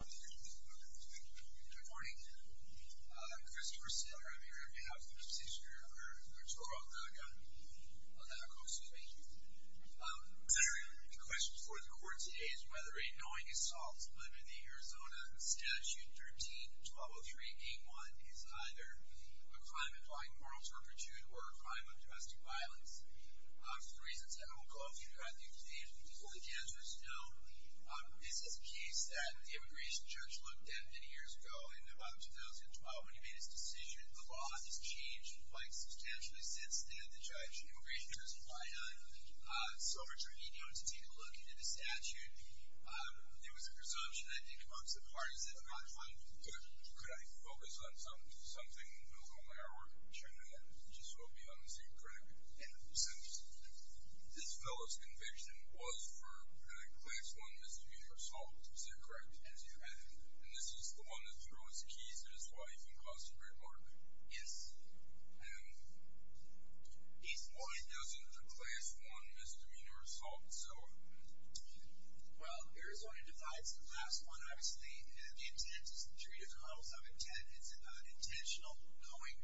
Good morning. I'm Christopher Sitter. I'm here on behalf of the judiciary under Arturo Aldaco-Quezada. The question before the court today is whether a knowing assault committed in Arizona under Statute 13-1203, Game 1, is either a crime involving moral turpitude or a crime of domestic violence. For the reasons I won't go through, I think the only answer is no. This is a case that the immigration judge looked at many years ago, in about 2012, when he made his decision. The law has changed quite substantially since then. The judge immigration does apply on. So are you going to take a look into the statute? There was a presumption, I think, amongst the parties that are not going to do it. Could I focus on something? This fellow's conviction was for a Class 1 misdemeanor assault. Is that correct? And this is the one that threw his keys at his wife and caused the trademark? Yes. What he does is a Class 1 misdemeanor assault. Well, Arizona divides the Class 1, obviously, and the intent is in three different levels. Intent is intentional, going,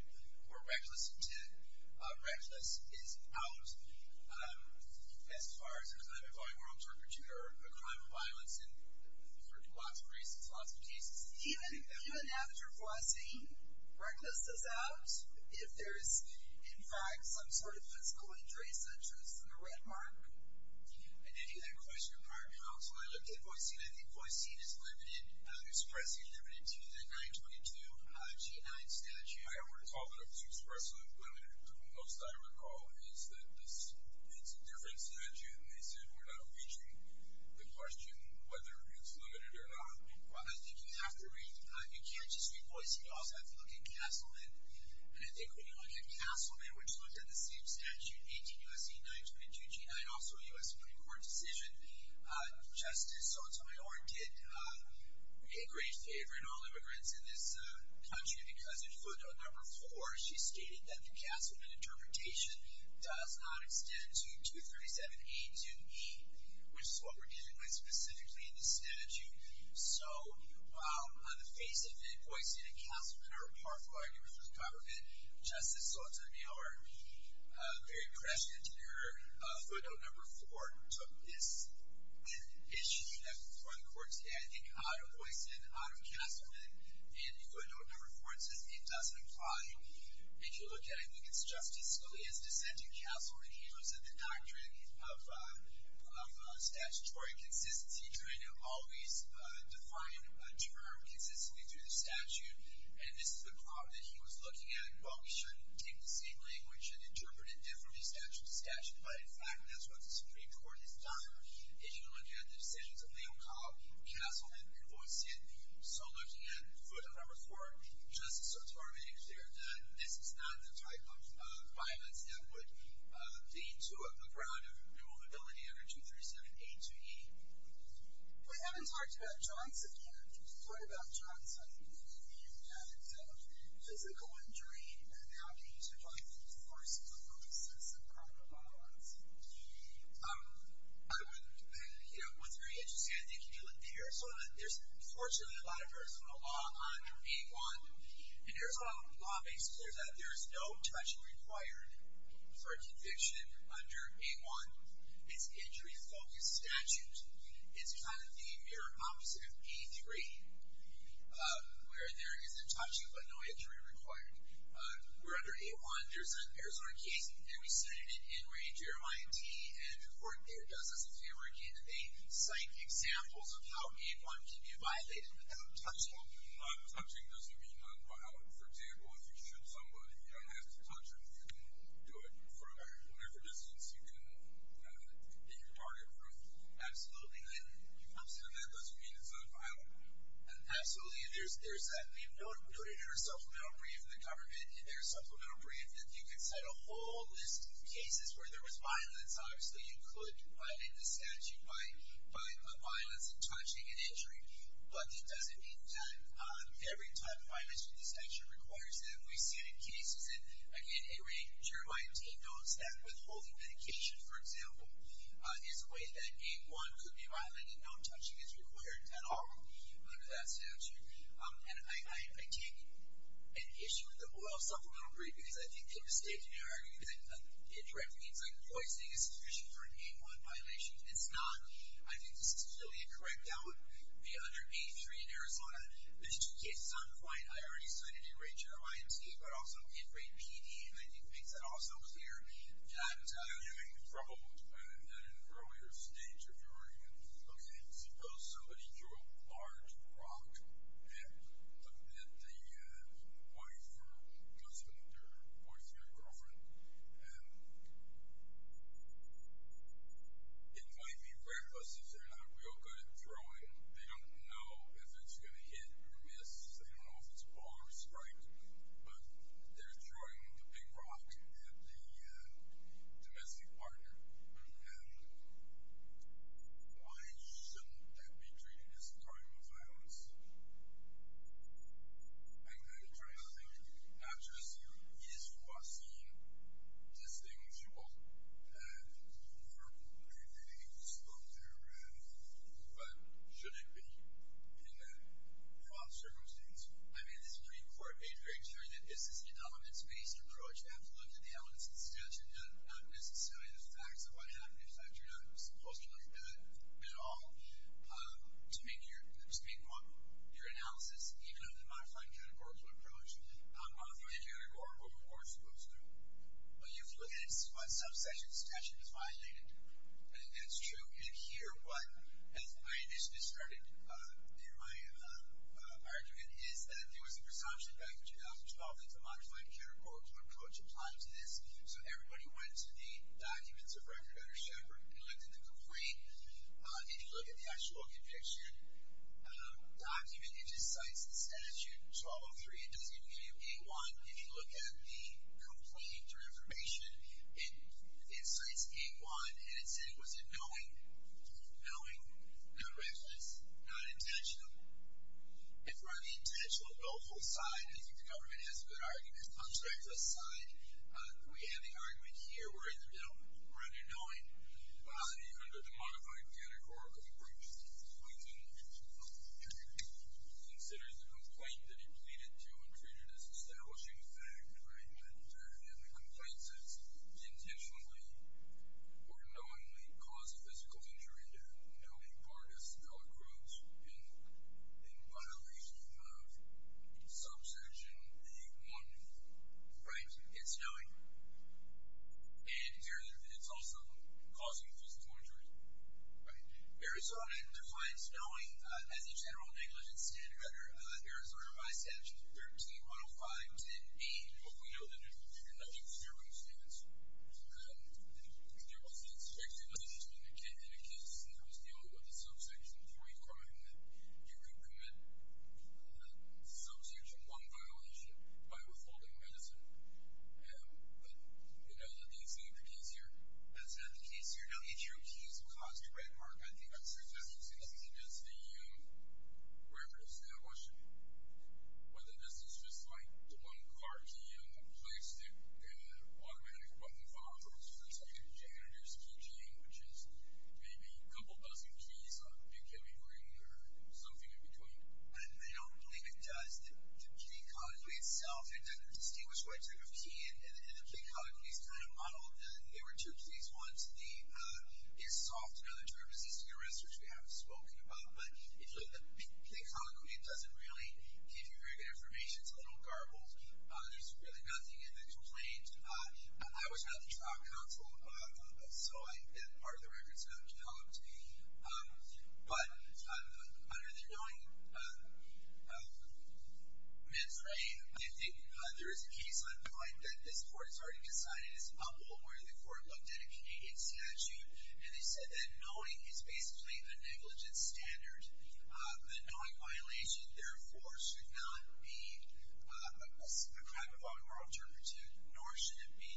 or reckless intent. Reckless is out as far as a crime involving moral turpitude or a crime of violence. And there are lots of reasons, lots of cases. Even now that you're voicing reckless is out, if there is, in fact, some sort of physical injury, such as the red mark. I didn't hear that question. I looked at the voicing. I think voicing is expressly limited to the 922G9 statute. I don't recall that it was expressly limited. The most I recall is that it's a different statute, and they said we're not reaching the question whether it's limited or not. Well, I think you have to read. You can't just read voicing. You also have to look at cancelment. And I think when you look at cancelment, which looked at the same statute, 18 U.S.C. 922G9, also a U.S. Supreme Court decision, Justice Sotomayor did a great favor to all immigrants in this country because in footnote number four she stated that the cancelment interpretation does not extend to 237A-2E, which is what we're dealing with specifically in this statute. So while on the face of it, voicing and cancelment are powerful arguments for the government, Justice Sotomayor, very prescient in her footnote number four, took this and issued it before the court today. I think out of voicing, out of cancelment, in footnote number four it says it doesn't apply. If you look at it, I think it's justicially as dissenting. Cancelment, he was in the doctrine of statutory consistency, trying to always define a term consistently through the statute. And this is the problem that he was looking at. Well, we shouldn't take the same language and interpret it differently statute to statute. But, in fact, that's what the Supreme Court has done. If you look at the decisions of Leal, Cobb, cancelment, and voicing, and so looking at footnote number four, Justice Sotomayor's there, then this is not the type of violence that would lead to a ground of removability under 237A-2E. We haven't talked about Johnson yet. We've heard about Johnson. We haven't heard about his physical injury and how he took on the force of the process of criminal violence. What's very interesting, I think, if you look at Arizona, there's fortunately a lot of Arizona law under A-1. And Arizona law makes it clear that there's no touching required for a conviction under A-1. It's injury-focused statute. It's kind of the mirror opposite of A-3, where there isn't touching but no injury required. We're under A-1. There's an Arizona case, and we studied it in Ray, Jeremiah, and T, and the court there does this exam where they cite examples of how A-1 can be violated without touching. Not touching doesn't mean nonviolent. For example, if you shoot somebody, you don't have to touch them. You can do it from whatever distance you can in your target group. Absolutely. And you come to them, that doesn't mean it's nonviolent. Absolutely. We have noted in our supplemental brief in the government, in their supplemental brief, that you can cite a whole list of cases where there was violence. Obviously, you could violate the statute by violence and touching and injury, but it doesn't mean that every type of violation in this statute requires it. We've seen it in cases, and again, A-Ray, Jeremiah, and T notes that withholding medication, for example, is a way that A-1 could be violated. No touching is required at all under that statute. And I take an issue with the oil supplemental brief because I think they're mistaken in arguing that indirect means like poisoning is sufficient for an A-1 violation. It's not. I think this is really incorrect. That would be under A-3 in Arizona. There's two cases on the point. I already cited in Ray, Jeremiah, and T, but also in Ray, P, and E, he thinks it also was A-1. Yeah, it was A-1. You may be troubled in an earlier stage of your argument. Okay. Suppose somebody threw a large rock at the wife or husband or boyfriend or girlfriend. And it might be reckless because they're not real good at throwing. They don't know if it's going to hit or miss. They don't know if it's ball or sprite. But they're throwing the big rock at the domestic partner. Why shouldn't that be treated as a crime of violence? I'm trying to think. Not just you. Yes, you are seeing this thing with people. And you are creating exposure. But should it be? In what circumstance? I mean, this morning before, it made very clear that this is an elements-based approach. You have to look at the elements of the statute, not necessarily the facts of what happened. In fact, you're not supposed to look at that at all. To make your analysis, even under the modified categorical approach, a modified categorical approach goes through. But you've looked at what subsection statute is violated. I think that's true. And here, what my initiative started, and my argument is that there was a presumption back in 2012 that the modified categorical approach applied to this. So everybody went to the documents of Reverend Shepard and looked at the complaint. If you look at the actual conviction document, it just cites the statute, 1203. It doesn't even give you gate one. If you look at the complaint or information, it cites gate one. And it said, was it knowing? Was it knowing? Not reckless? Not intentional? If it were intentional, it would go full-side. I think the government has a good argument. It constructs a side. We have the argument here. We're in the middle. We're under knowing. Under the modified categorical approach, the complaint is considered the complaint that it pleaded to and treated as establishing a fact. And the complaint says, intentionally or knowingly caused physical injury to knowing parties, not groups, in violation of subsection A-1. Right? It's knowing. And it's also causing physical injury. Arizona defines knowing as a general negligence standard. Arizona by statute, 13-105-10-B, but we know that it's a general negligence standard when it stands. And there was the expected negligence when the candidate accused him that was dealing with a subsection 3 crime, that you could commit subsection 1 violation by withholding medicine. But, you know, let me explain the case here. That's not the case here. Now, each of your keys will cause your red mark, I think. I'm not sure if that's the case. I think that's the reference to that question. Whether this is just, like, the one car key in the place that the automatic button follows for a subsection J, or there's a key G, which is maybe a couple dozen keys on a pink heming ring or something in between. I don't believe it does. The key code itself, it's a distinguished red type of key, and the key code is kind of modeled. They were two of these ones. It's soft in other terms. These are the arrests which we haven't spoken about. But if you look at the code, it doesn't really give you very good information. It's a little garbled. There's really nothing in the complaint. I was not the trial counsel, so part of the record's not going to tell it to me. But under the knowing men's right, if there is a case on the flight that this court has already decided is humble where the court looked at a Canadian statute, and they said that knowing is basically a negligent standard. The knowing violation, therefore, should not be a crime of armed or alternative, nor should it be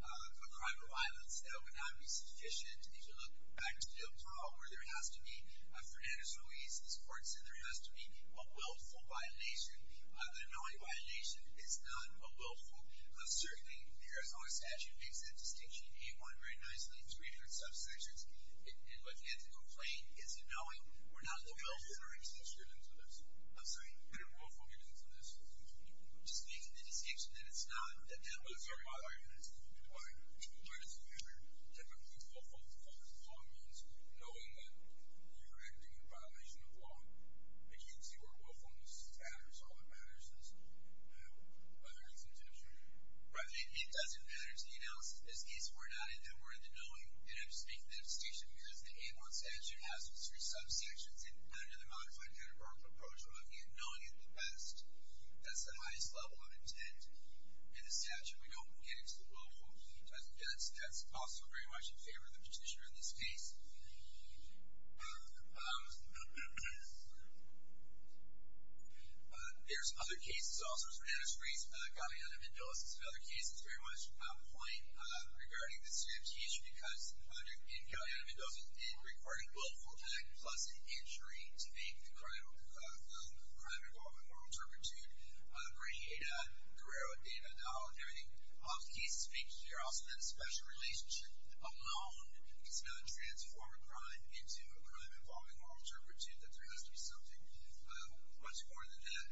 a crime of violence. That would not be sufficient. If you look back to the appeal trial where there has to be Fernandez-Ruiz, this court said there has to be a willful violation. The knowing violation is not a willful. Uncertainly, the Arizona statute makes that distinction in A1 very nicely in three different subsections. What you have to complain is in knowing. We're not looking at willful violations. I'm sorry, what are willful violations in this? Just making the distinction that it's not. That was your argument. My argument is that there are typically willful violations of law means knowing that you're acting in violation of law. You can see where willfulness is at or is all that matters is whether it's intentional. Right, it doesn't matter to the analysis. In this case, we're not in there. We're in the knowing, and I'm just making that distinction because the A1 statute has those three subsections under the modified categorical approach where I'm in knowing at the best. That's the highest level of intent in the statute. We don't want to get into the willful. That's also very much in favor of the petitioner in this case. Um, um... There's other cases also. For instance, Galeana Mendoza's another case. It's very much a point regarding the CFT issue because in Galeana Mendoza's case, it required a willful act plus an injury to make the crime involved in moral turpitude where he hit Guerrero at the end of the aisle and everything. All the cases make it clear also that the special relationship alone does not transform a crime into a crime involving moral turpitude, that there has to be something much more than that. Um,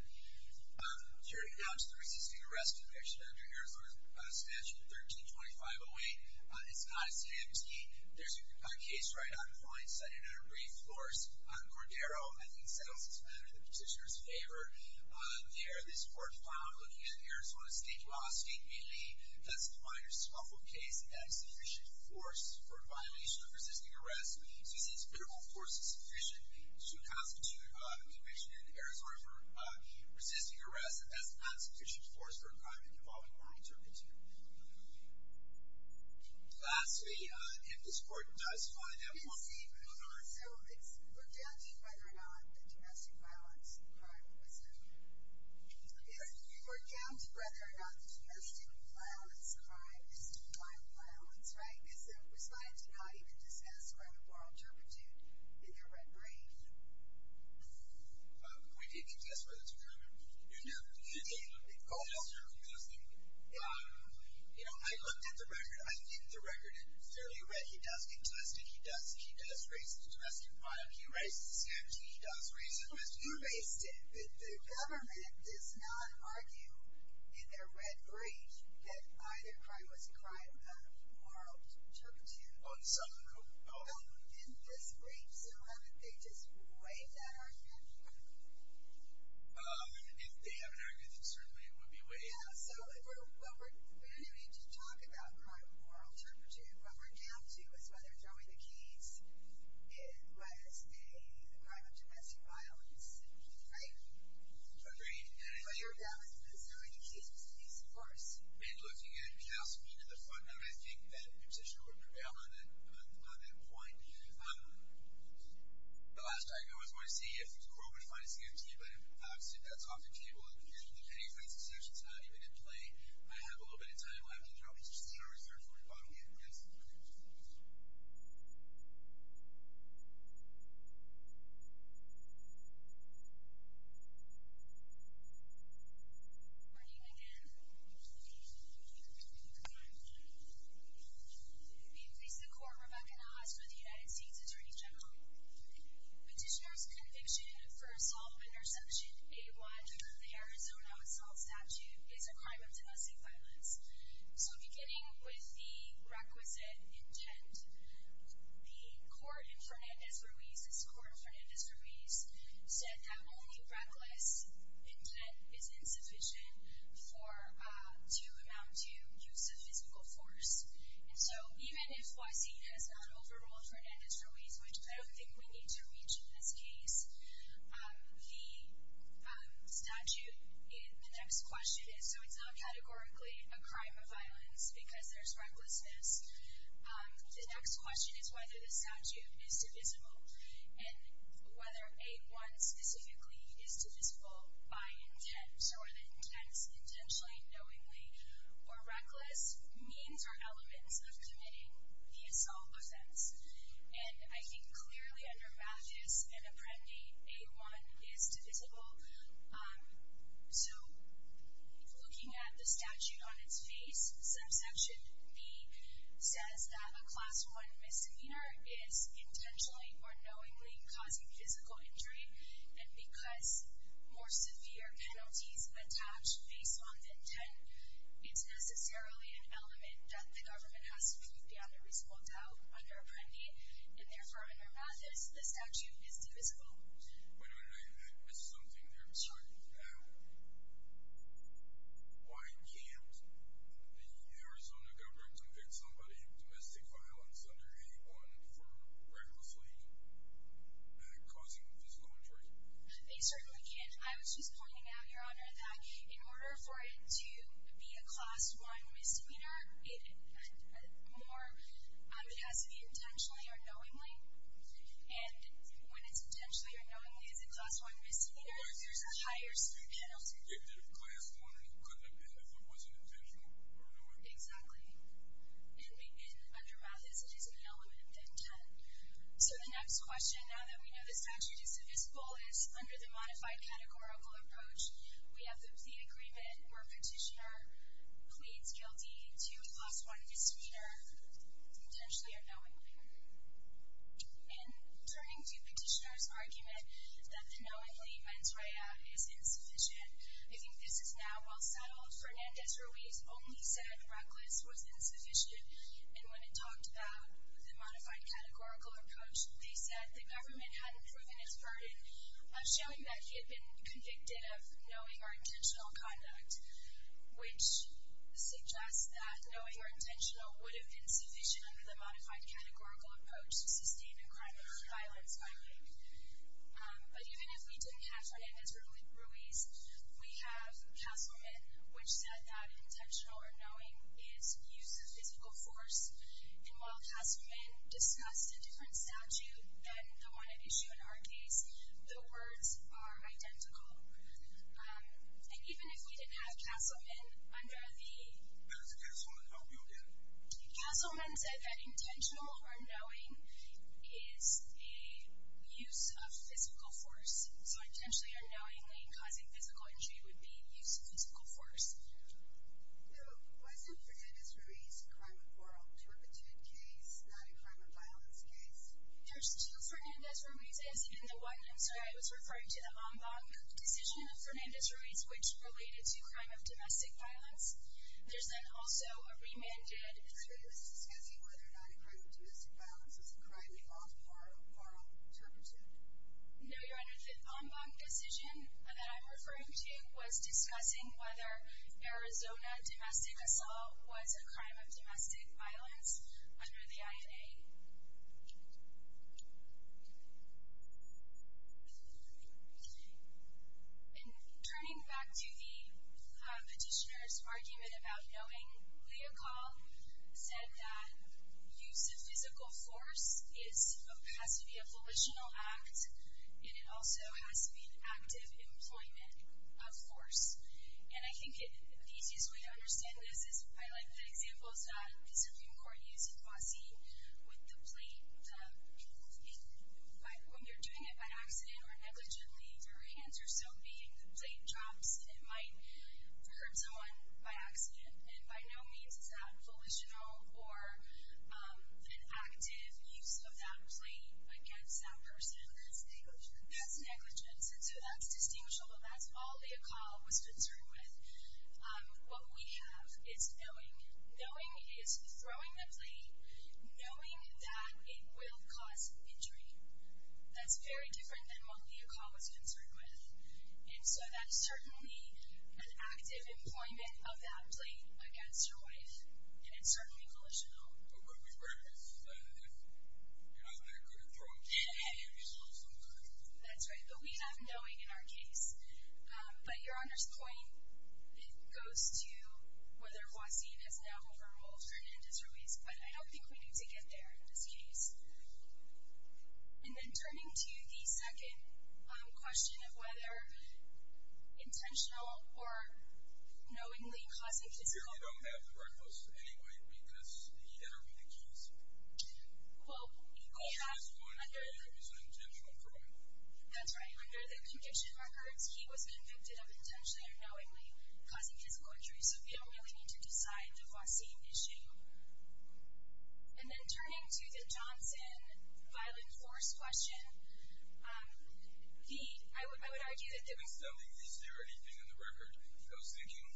here to announce the resisting arrest conviction under Arizona's statute 13-2508, it's not a CFT. There's a case right on the line, cited under brief force on Guerrero, and he settles this matter in the petitioner's favor. There, this court found, looking at Arizona State law, State Melee, that's a minor swaffle case and that's sufficient force for a violation of resisting arrest. We see it's literal force is sufficient to constitute a conviction in Arizona for resisting arrest, and that's not sufficient force for a crime involving moral turpitude. Lastly, if this court does find that we won't be able to honor it. So, it's looked down to whether or not the domestic violence crime was committed. Yes. It's looked down to whether or not the domestic violence crime is defined violence, right? Because it was not even discussed whether moral turpitude in the record, right? We did contest whether it's a crime or not. You did? We did. You did? Um, you know, I looked at the record. I think the record is fairly read. He does contest it. He does raise the domestic violence. He raises it. He does raise the domestic violence. You raised it. The government does not argue in their red brief that either crime was a crime of moral turpitude. Oh, in some group? No, in this brief. So, they just waived that argument. If they have an argument, then certainly it would be waived. Yeah, so we don't need to talk about moral turpitude. What we're down to is whether throwing the keys was a crime of domestic violence, right? Right. But you're down to whether throwing the keys was a case in force. In looking at Councilman in the front, I think that petition would prevail on that point. Um, the last tag I was going to see if the court would find a scanty, but obviously that's off the table. In the future, depending on these decisions, it's not even in play. I have a little bit of time left, and there are other issues that are referred to in the bottom here. Yes. Good morning again. Good morning. Good morning. Good morning. Good morning. I'm going to introduce the court, Rebecca Nahas, for the United States Attorney General. Petitioner's conviction for assault interception, A1, the Arizona assault statute, is a crime of domestic violence. So, beginning with the requisite intent, the court in Fernandez-Ruiz, this court in Fernandez-Ruiz, said that only reckless intent is insufficient to amount to use of physical force. And so, even if YC has not overruled Fernandez-Ruiz, which I don't think we need to reach in this case, the statute in the next question is, so it's not categorically a crime of violence because there's recklessness. The next question is whether the statute is divisible and whether A1 specifically is divisible by intent. So, whether intent is intentionally, knowingly, or reckless, means or elements of committing the assault offense. And I think clearly under Mathis and Apprendi, A1 is divisible. So, looking at the statute on its face, subsection B says that a Class I misdemeanor is intentionally or knowingly causing physical injury. And because more severe penalties attach based on intent, it's necessarily an element that the government has to prove beyond a reasonable doubt under Apprendi. And therefore, under Mathis, the statute is divisible. Wait a minute, I missed something there. Sorry. Why can't the Arizona government convict somebody of domestic violence under A1 for recklessly causing physical injury? They certainly can. I was just pointing out, Your Honor, that in order for it to be a Class I misdemeanor, it has to be intentionally or knowingly. And when it's intentionally or knowingly as a Class I misdemeanor, there's a higher severe penalty. But if it was convicted of Class I, it wasn't intentional or knowingly. Exactly. And under Mathis, it is an element of intent. So the next question, now that we know the statute is divisible, is under the modified categorical approach, we have the agreement where a petitioner pleads guilty to a Class I misdemeanor, potentially or knowingly. And turning to Petitioner's argument that the knowingly mens rea is insufficient, I think this is now well settled. Fernandez-Ruiz only said reckless was insufficient, and when it talked about the modified categorical approach, they said the government hadn't proven its burden, showing that he had been convicted of knowing or intentional conduct, which suggests that knowing or intentional would have been sufficient under the modified categorical approach to sustain a crime of violence. But even if we didn't have Fernandez-Ruiz, we have Castleman, which said that intentional or knowing is use of physical force. And while Castleman discussed a different statute than the one at issue in our case, the words are identical. And even if we didn't have Castleman under the... What did Castleman help you with? Castleman said that intentional or knowing is a use of physical force. So intentionally or knowingly causing physical injury would be use of physical force. So was in Fernandez-Ruiz a crime of moral turpitude case, not a crime of violence case? There's two Fernandez-Ruiz's in the one, and so I was referring to the Ombak decision of Fernandez-Ruiz, which related to crime of domestic violence. There's then also a remanded... So he was discussing whether or not a crime of domestic violence was a crime of moral turpitude? No, you're under the Ombak decision that I'm referring to was discussing whether Arizona domestic assault was a crime of domestic violence under the INA. And turning back to the petitioner's argument about knowing, Leocal said that use of physical force has to be a volitional act, and it also has to be active employment of force. And I think the easiest way to understand this is... I like the examples that the Supreme Court used in Wasi with the plate... When you're doing it by accident or negligently, your hands are still beating, the plate drops, it might hurt someone by accident. And by no means is that volitional or an active use of that plate against that person. That's negligence. That's negligence, and so that's distinguishable. That's all Leocal was concerned with. What we have is knowing. Knowing is throwing the plate, knowing that it will cause injury. That's very different than what Leocal was concerned with. And so that's certainly an active employment of that plate against your wife, and it's certainly volitional. That's right, but we have knowing in our case. But Your Honor's point goes to whether Wasi has now overruled Hernandez-Ruiz, but I don't think we need to get there in this case. And then turning to the second question of whether intentional or knowingly causing physical injury. We don't have the record of this in any way because he never made the case. Well, we have under the... At this point, it was an intentional crime. That's right. Under the conviction records, he was convicted of intentionally or knowingly causing physical injury, so we don't really need to decide the Wasi issue. And then turning to the Johnson violent force question, I would argue that... When selling these, is there anything in the record that was thinking,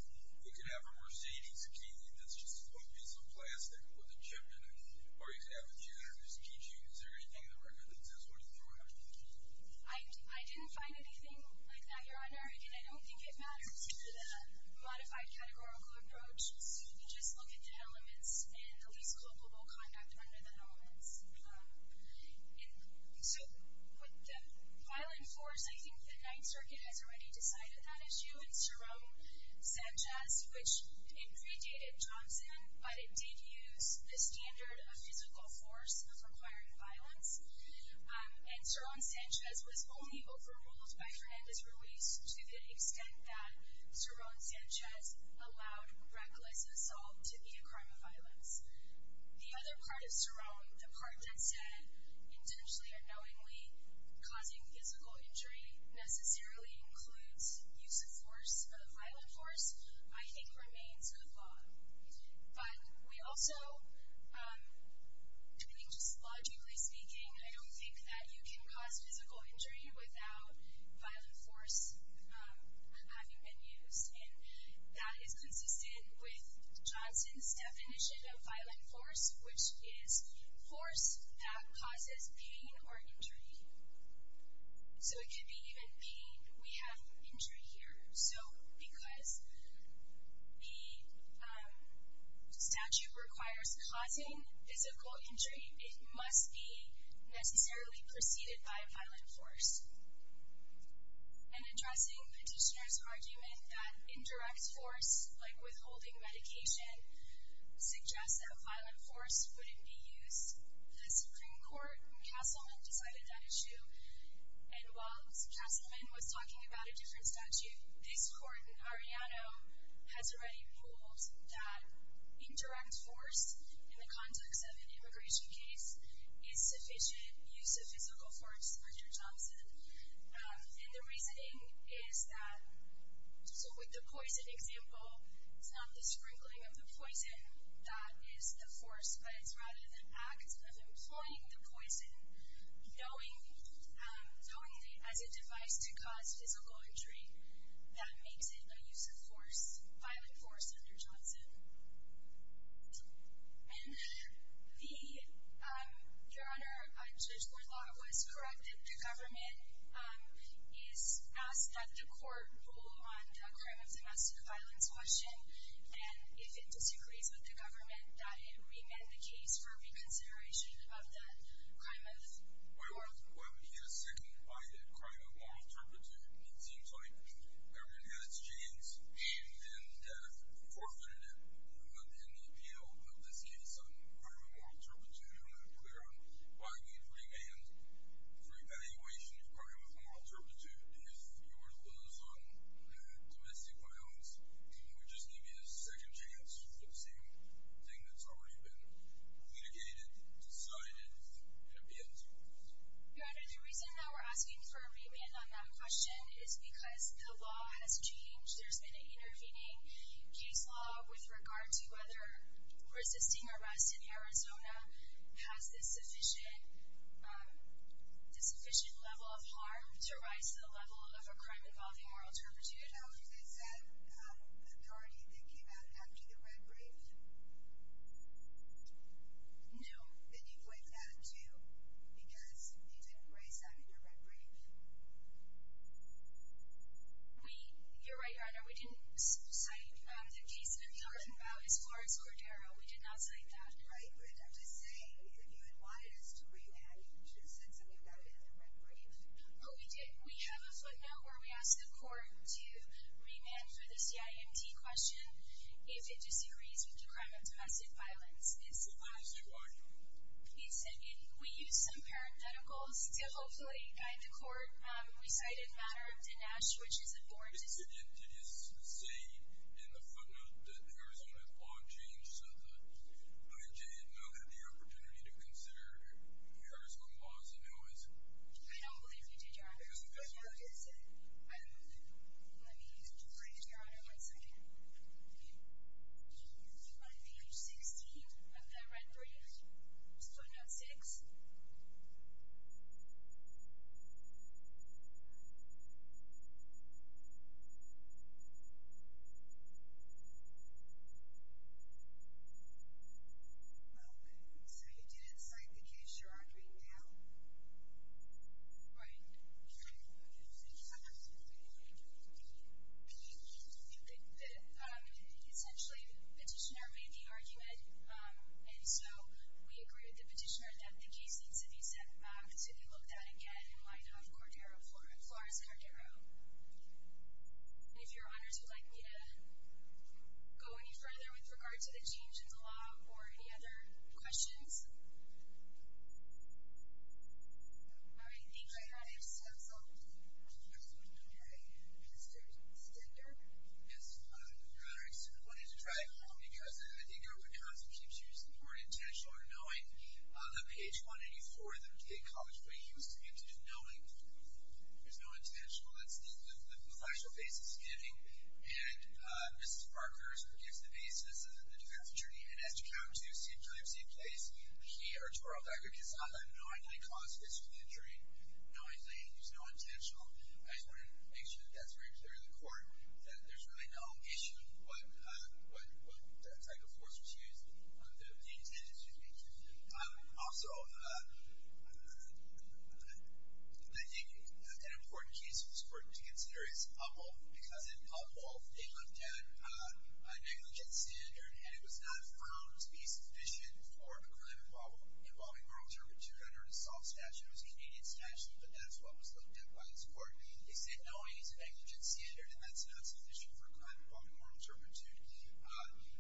you can have a Mercedes key and that's just one piece of plastic with a chip in it, or you can have two, and there's a keychain. Is there anything in the record that says what he threw out? I didn't find anything like that, Your Honor, and I don't think it matters to the modified categorical approach. So we just look at the elements and the least culpable conduct under the norms. So with the violent force, I think the Ninth Circuit has already decided that issue and Saron Sanchez, which it predated Johnson, but it did use the standard of physical force of requiring violence, and Saron Sanchez was only overruled by Fernandez's release to the extent that Saron Sanchez allowed reckless assault to be a crime of violence. The other part of Saron, the part that said, intentionally or knowingly causing physical injury necessarily includes use of force, of violent force, I think remains a flaw. But we also... I mean, just logically speaking, I don't think that you can cause physical injury without violent force having been used, and that is consistent with Johnson's definition of violent force, which is force that causes pain or injury. So it could be even pain. We have injury here. So because the statute requires causing physical injury, it must be necessarily preceded by violent force. And addressing Petitioner's argument that indirect force, like withholding medication, suggests that violent force wouldn't be used, the Supreme Court in Castleman decided that issue, and while Castleman was talking about a different statute, this court in Arellano has already ruled that indirect force in the context of an immigration case is sufficient use of physical force under Johnson. And the reasoning is that... So with the poison example, it's not the sprinkling of the poison that is the force, but it's rather the act of employing the poison, knowingly as a device to cause physical injury, that makes it a use of force, violent force under Johnson. And the... Your Honour, Judge Bourdalois corrected the government. It's asked that the court rule on the crime of domestic violence question, and if it disagrees with the government, that it remand the case for reconsideration of the crime of... Well, he is seconded by the crime of moral turpitude. It seems like the government had its chance, aimed and forfeited it in the appeal of this case on crime of moral turpitude. I'm not clear on why he's remanded for evaluation of crime of moral turpitude. If you were to lose on domestic violence, it would just give you a second chance for the same thing that's already been litigated, decided, and appealed to. Your Honour, the reason that we're asking for a remand on that question is because the law has changed. There's been an intervening case law with regard to whether resisting arrest in Arizona has the sufficient level of harm to rise the level of a crime involving moral turpitude. Now, is that authority that came out after the red brief? No. Then you point that out, too, because you didn't raise that in your red brief. You're right, Your Honour. We didn't cite the case that we heard about as far as Cordero. We did not cite that. Right, but I'm just saying, if you had wanted us to remand, you should have said something about it in the red brief. Oh, we did. We have a footnote where we asked the court to remand for the CIMT question if it disagrees with the crime of domestic violence. What does it say? He said, we used some parentheticals to hopefully guide the court. We cited the matter of Dinesh, which is a board decision. Did you see in the footnote that the Arizona law changed so that I did not have the opportunity to consider the Arizona laws, and who is it? I don't believe you did, Your Honour. There's a footnote that said... Let me point to Your Honour one second. On page 16 of the red brief, footnote 6... Well, so you didn't cite the case you're arguing now? Right. Your Honour, essentially the petitioner made the argument, and so we agreed with the petitioner that the case needs to be sent back to be looked at again in light of Cordero v. Flores-Cordero. And if Your Honours would like me to go any further with regard to the change in the law or any other questions? Well, I think I have some questions. Mr. Stender? Yes, Your Honour, I wanted to drive home because I think it constitutes more intentional knowing on page 184 of the college brief, he was committed to knowing. There's no intentional. That's the factual basis he's giving, and Mr. Parker gives the basis of the defense attorney and has to come to, same time, same place. He, Arturo Vega-Casada, knowingly caused this injury, knowingly. There's no intentional. I just wanted to make sure that that's very clear to the court, that there's really no issue with what type of force was used. The intent is just being true. Also, I think an important case for this court to consider is Upholth, because in Upholth, they looked at a negligence standard, and it was not found to be sufficient for a claim involving moral turpitude under an assault statute. It was a Canadian statute, but that's what was looked at by this court. They said, no, he's a negligence standard, and that's not sufficient for a claim involving moral turpitude. And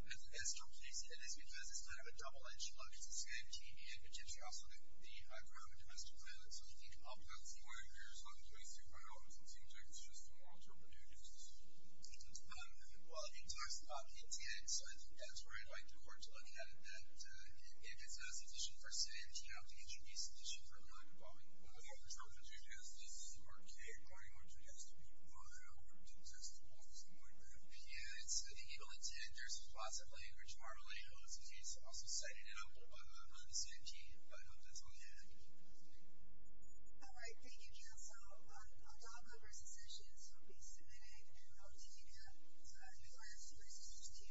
the reason they said this is because it's kind of a double-edged sword. It's the same team in Virginia. Also, they grew up in domestic violence, so I think Upholth... That's the way it appears. I'm 23, but I don't think it's injurious to moral turpitude. Well, he talks about intent, so I think that's where I'd like the court to look at it, that if it's not sufficient for sanity, I don't think it should be sufficient for a crime involving moral turpitude, because this is a court case, according to which it has to be brought over to possess the full force of moral turpitude. Yeah, it's the evil intent versus the positive language. Marjolein O'Sullivan has also cited it on the sanity. I hope that's all you had. All right. All right. Thank you, counsel. Our top numbers of sessions will be submitted in Octavia. Thank you. Thank you.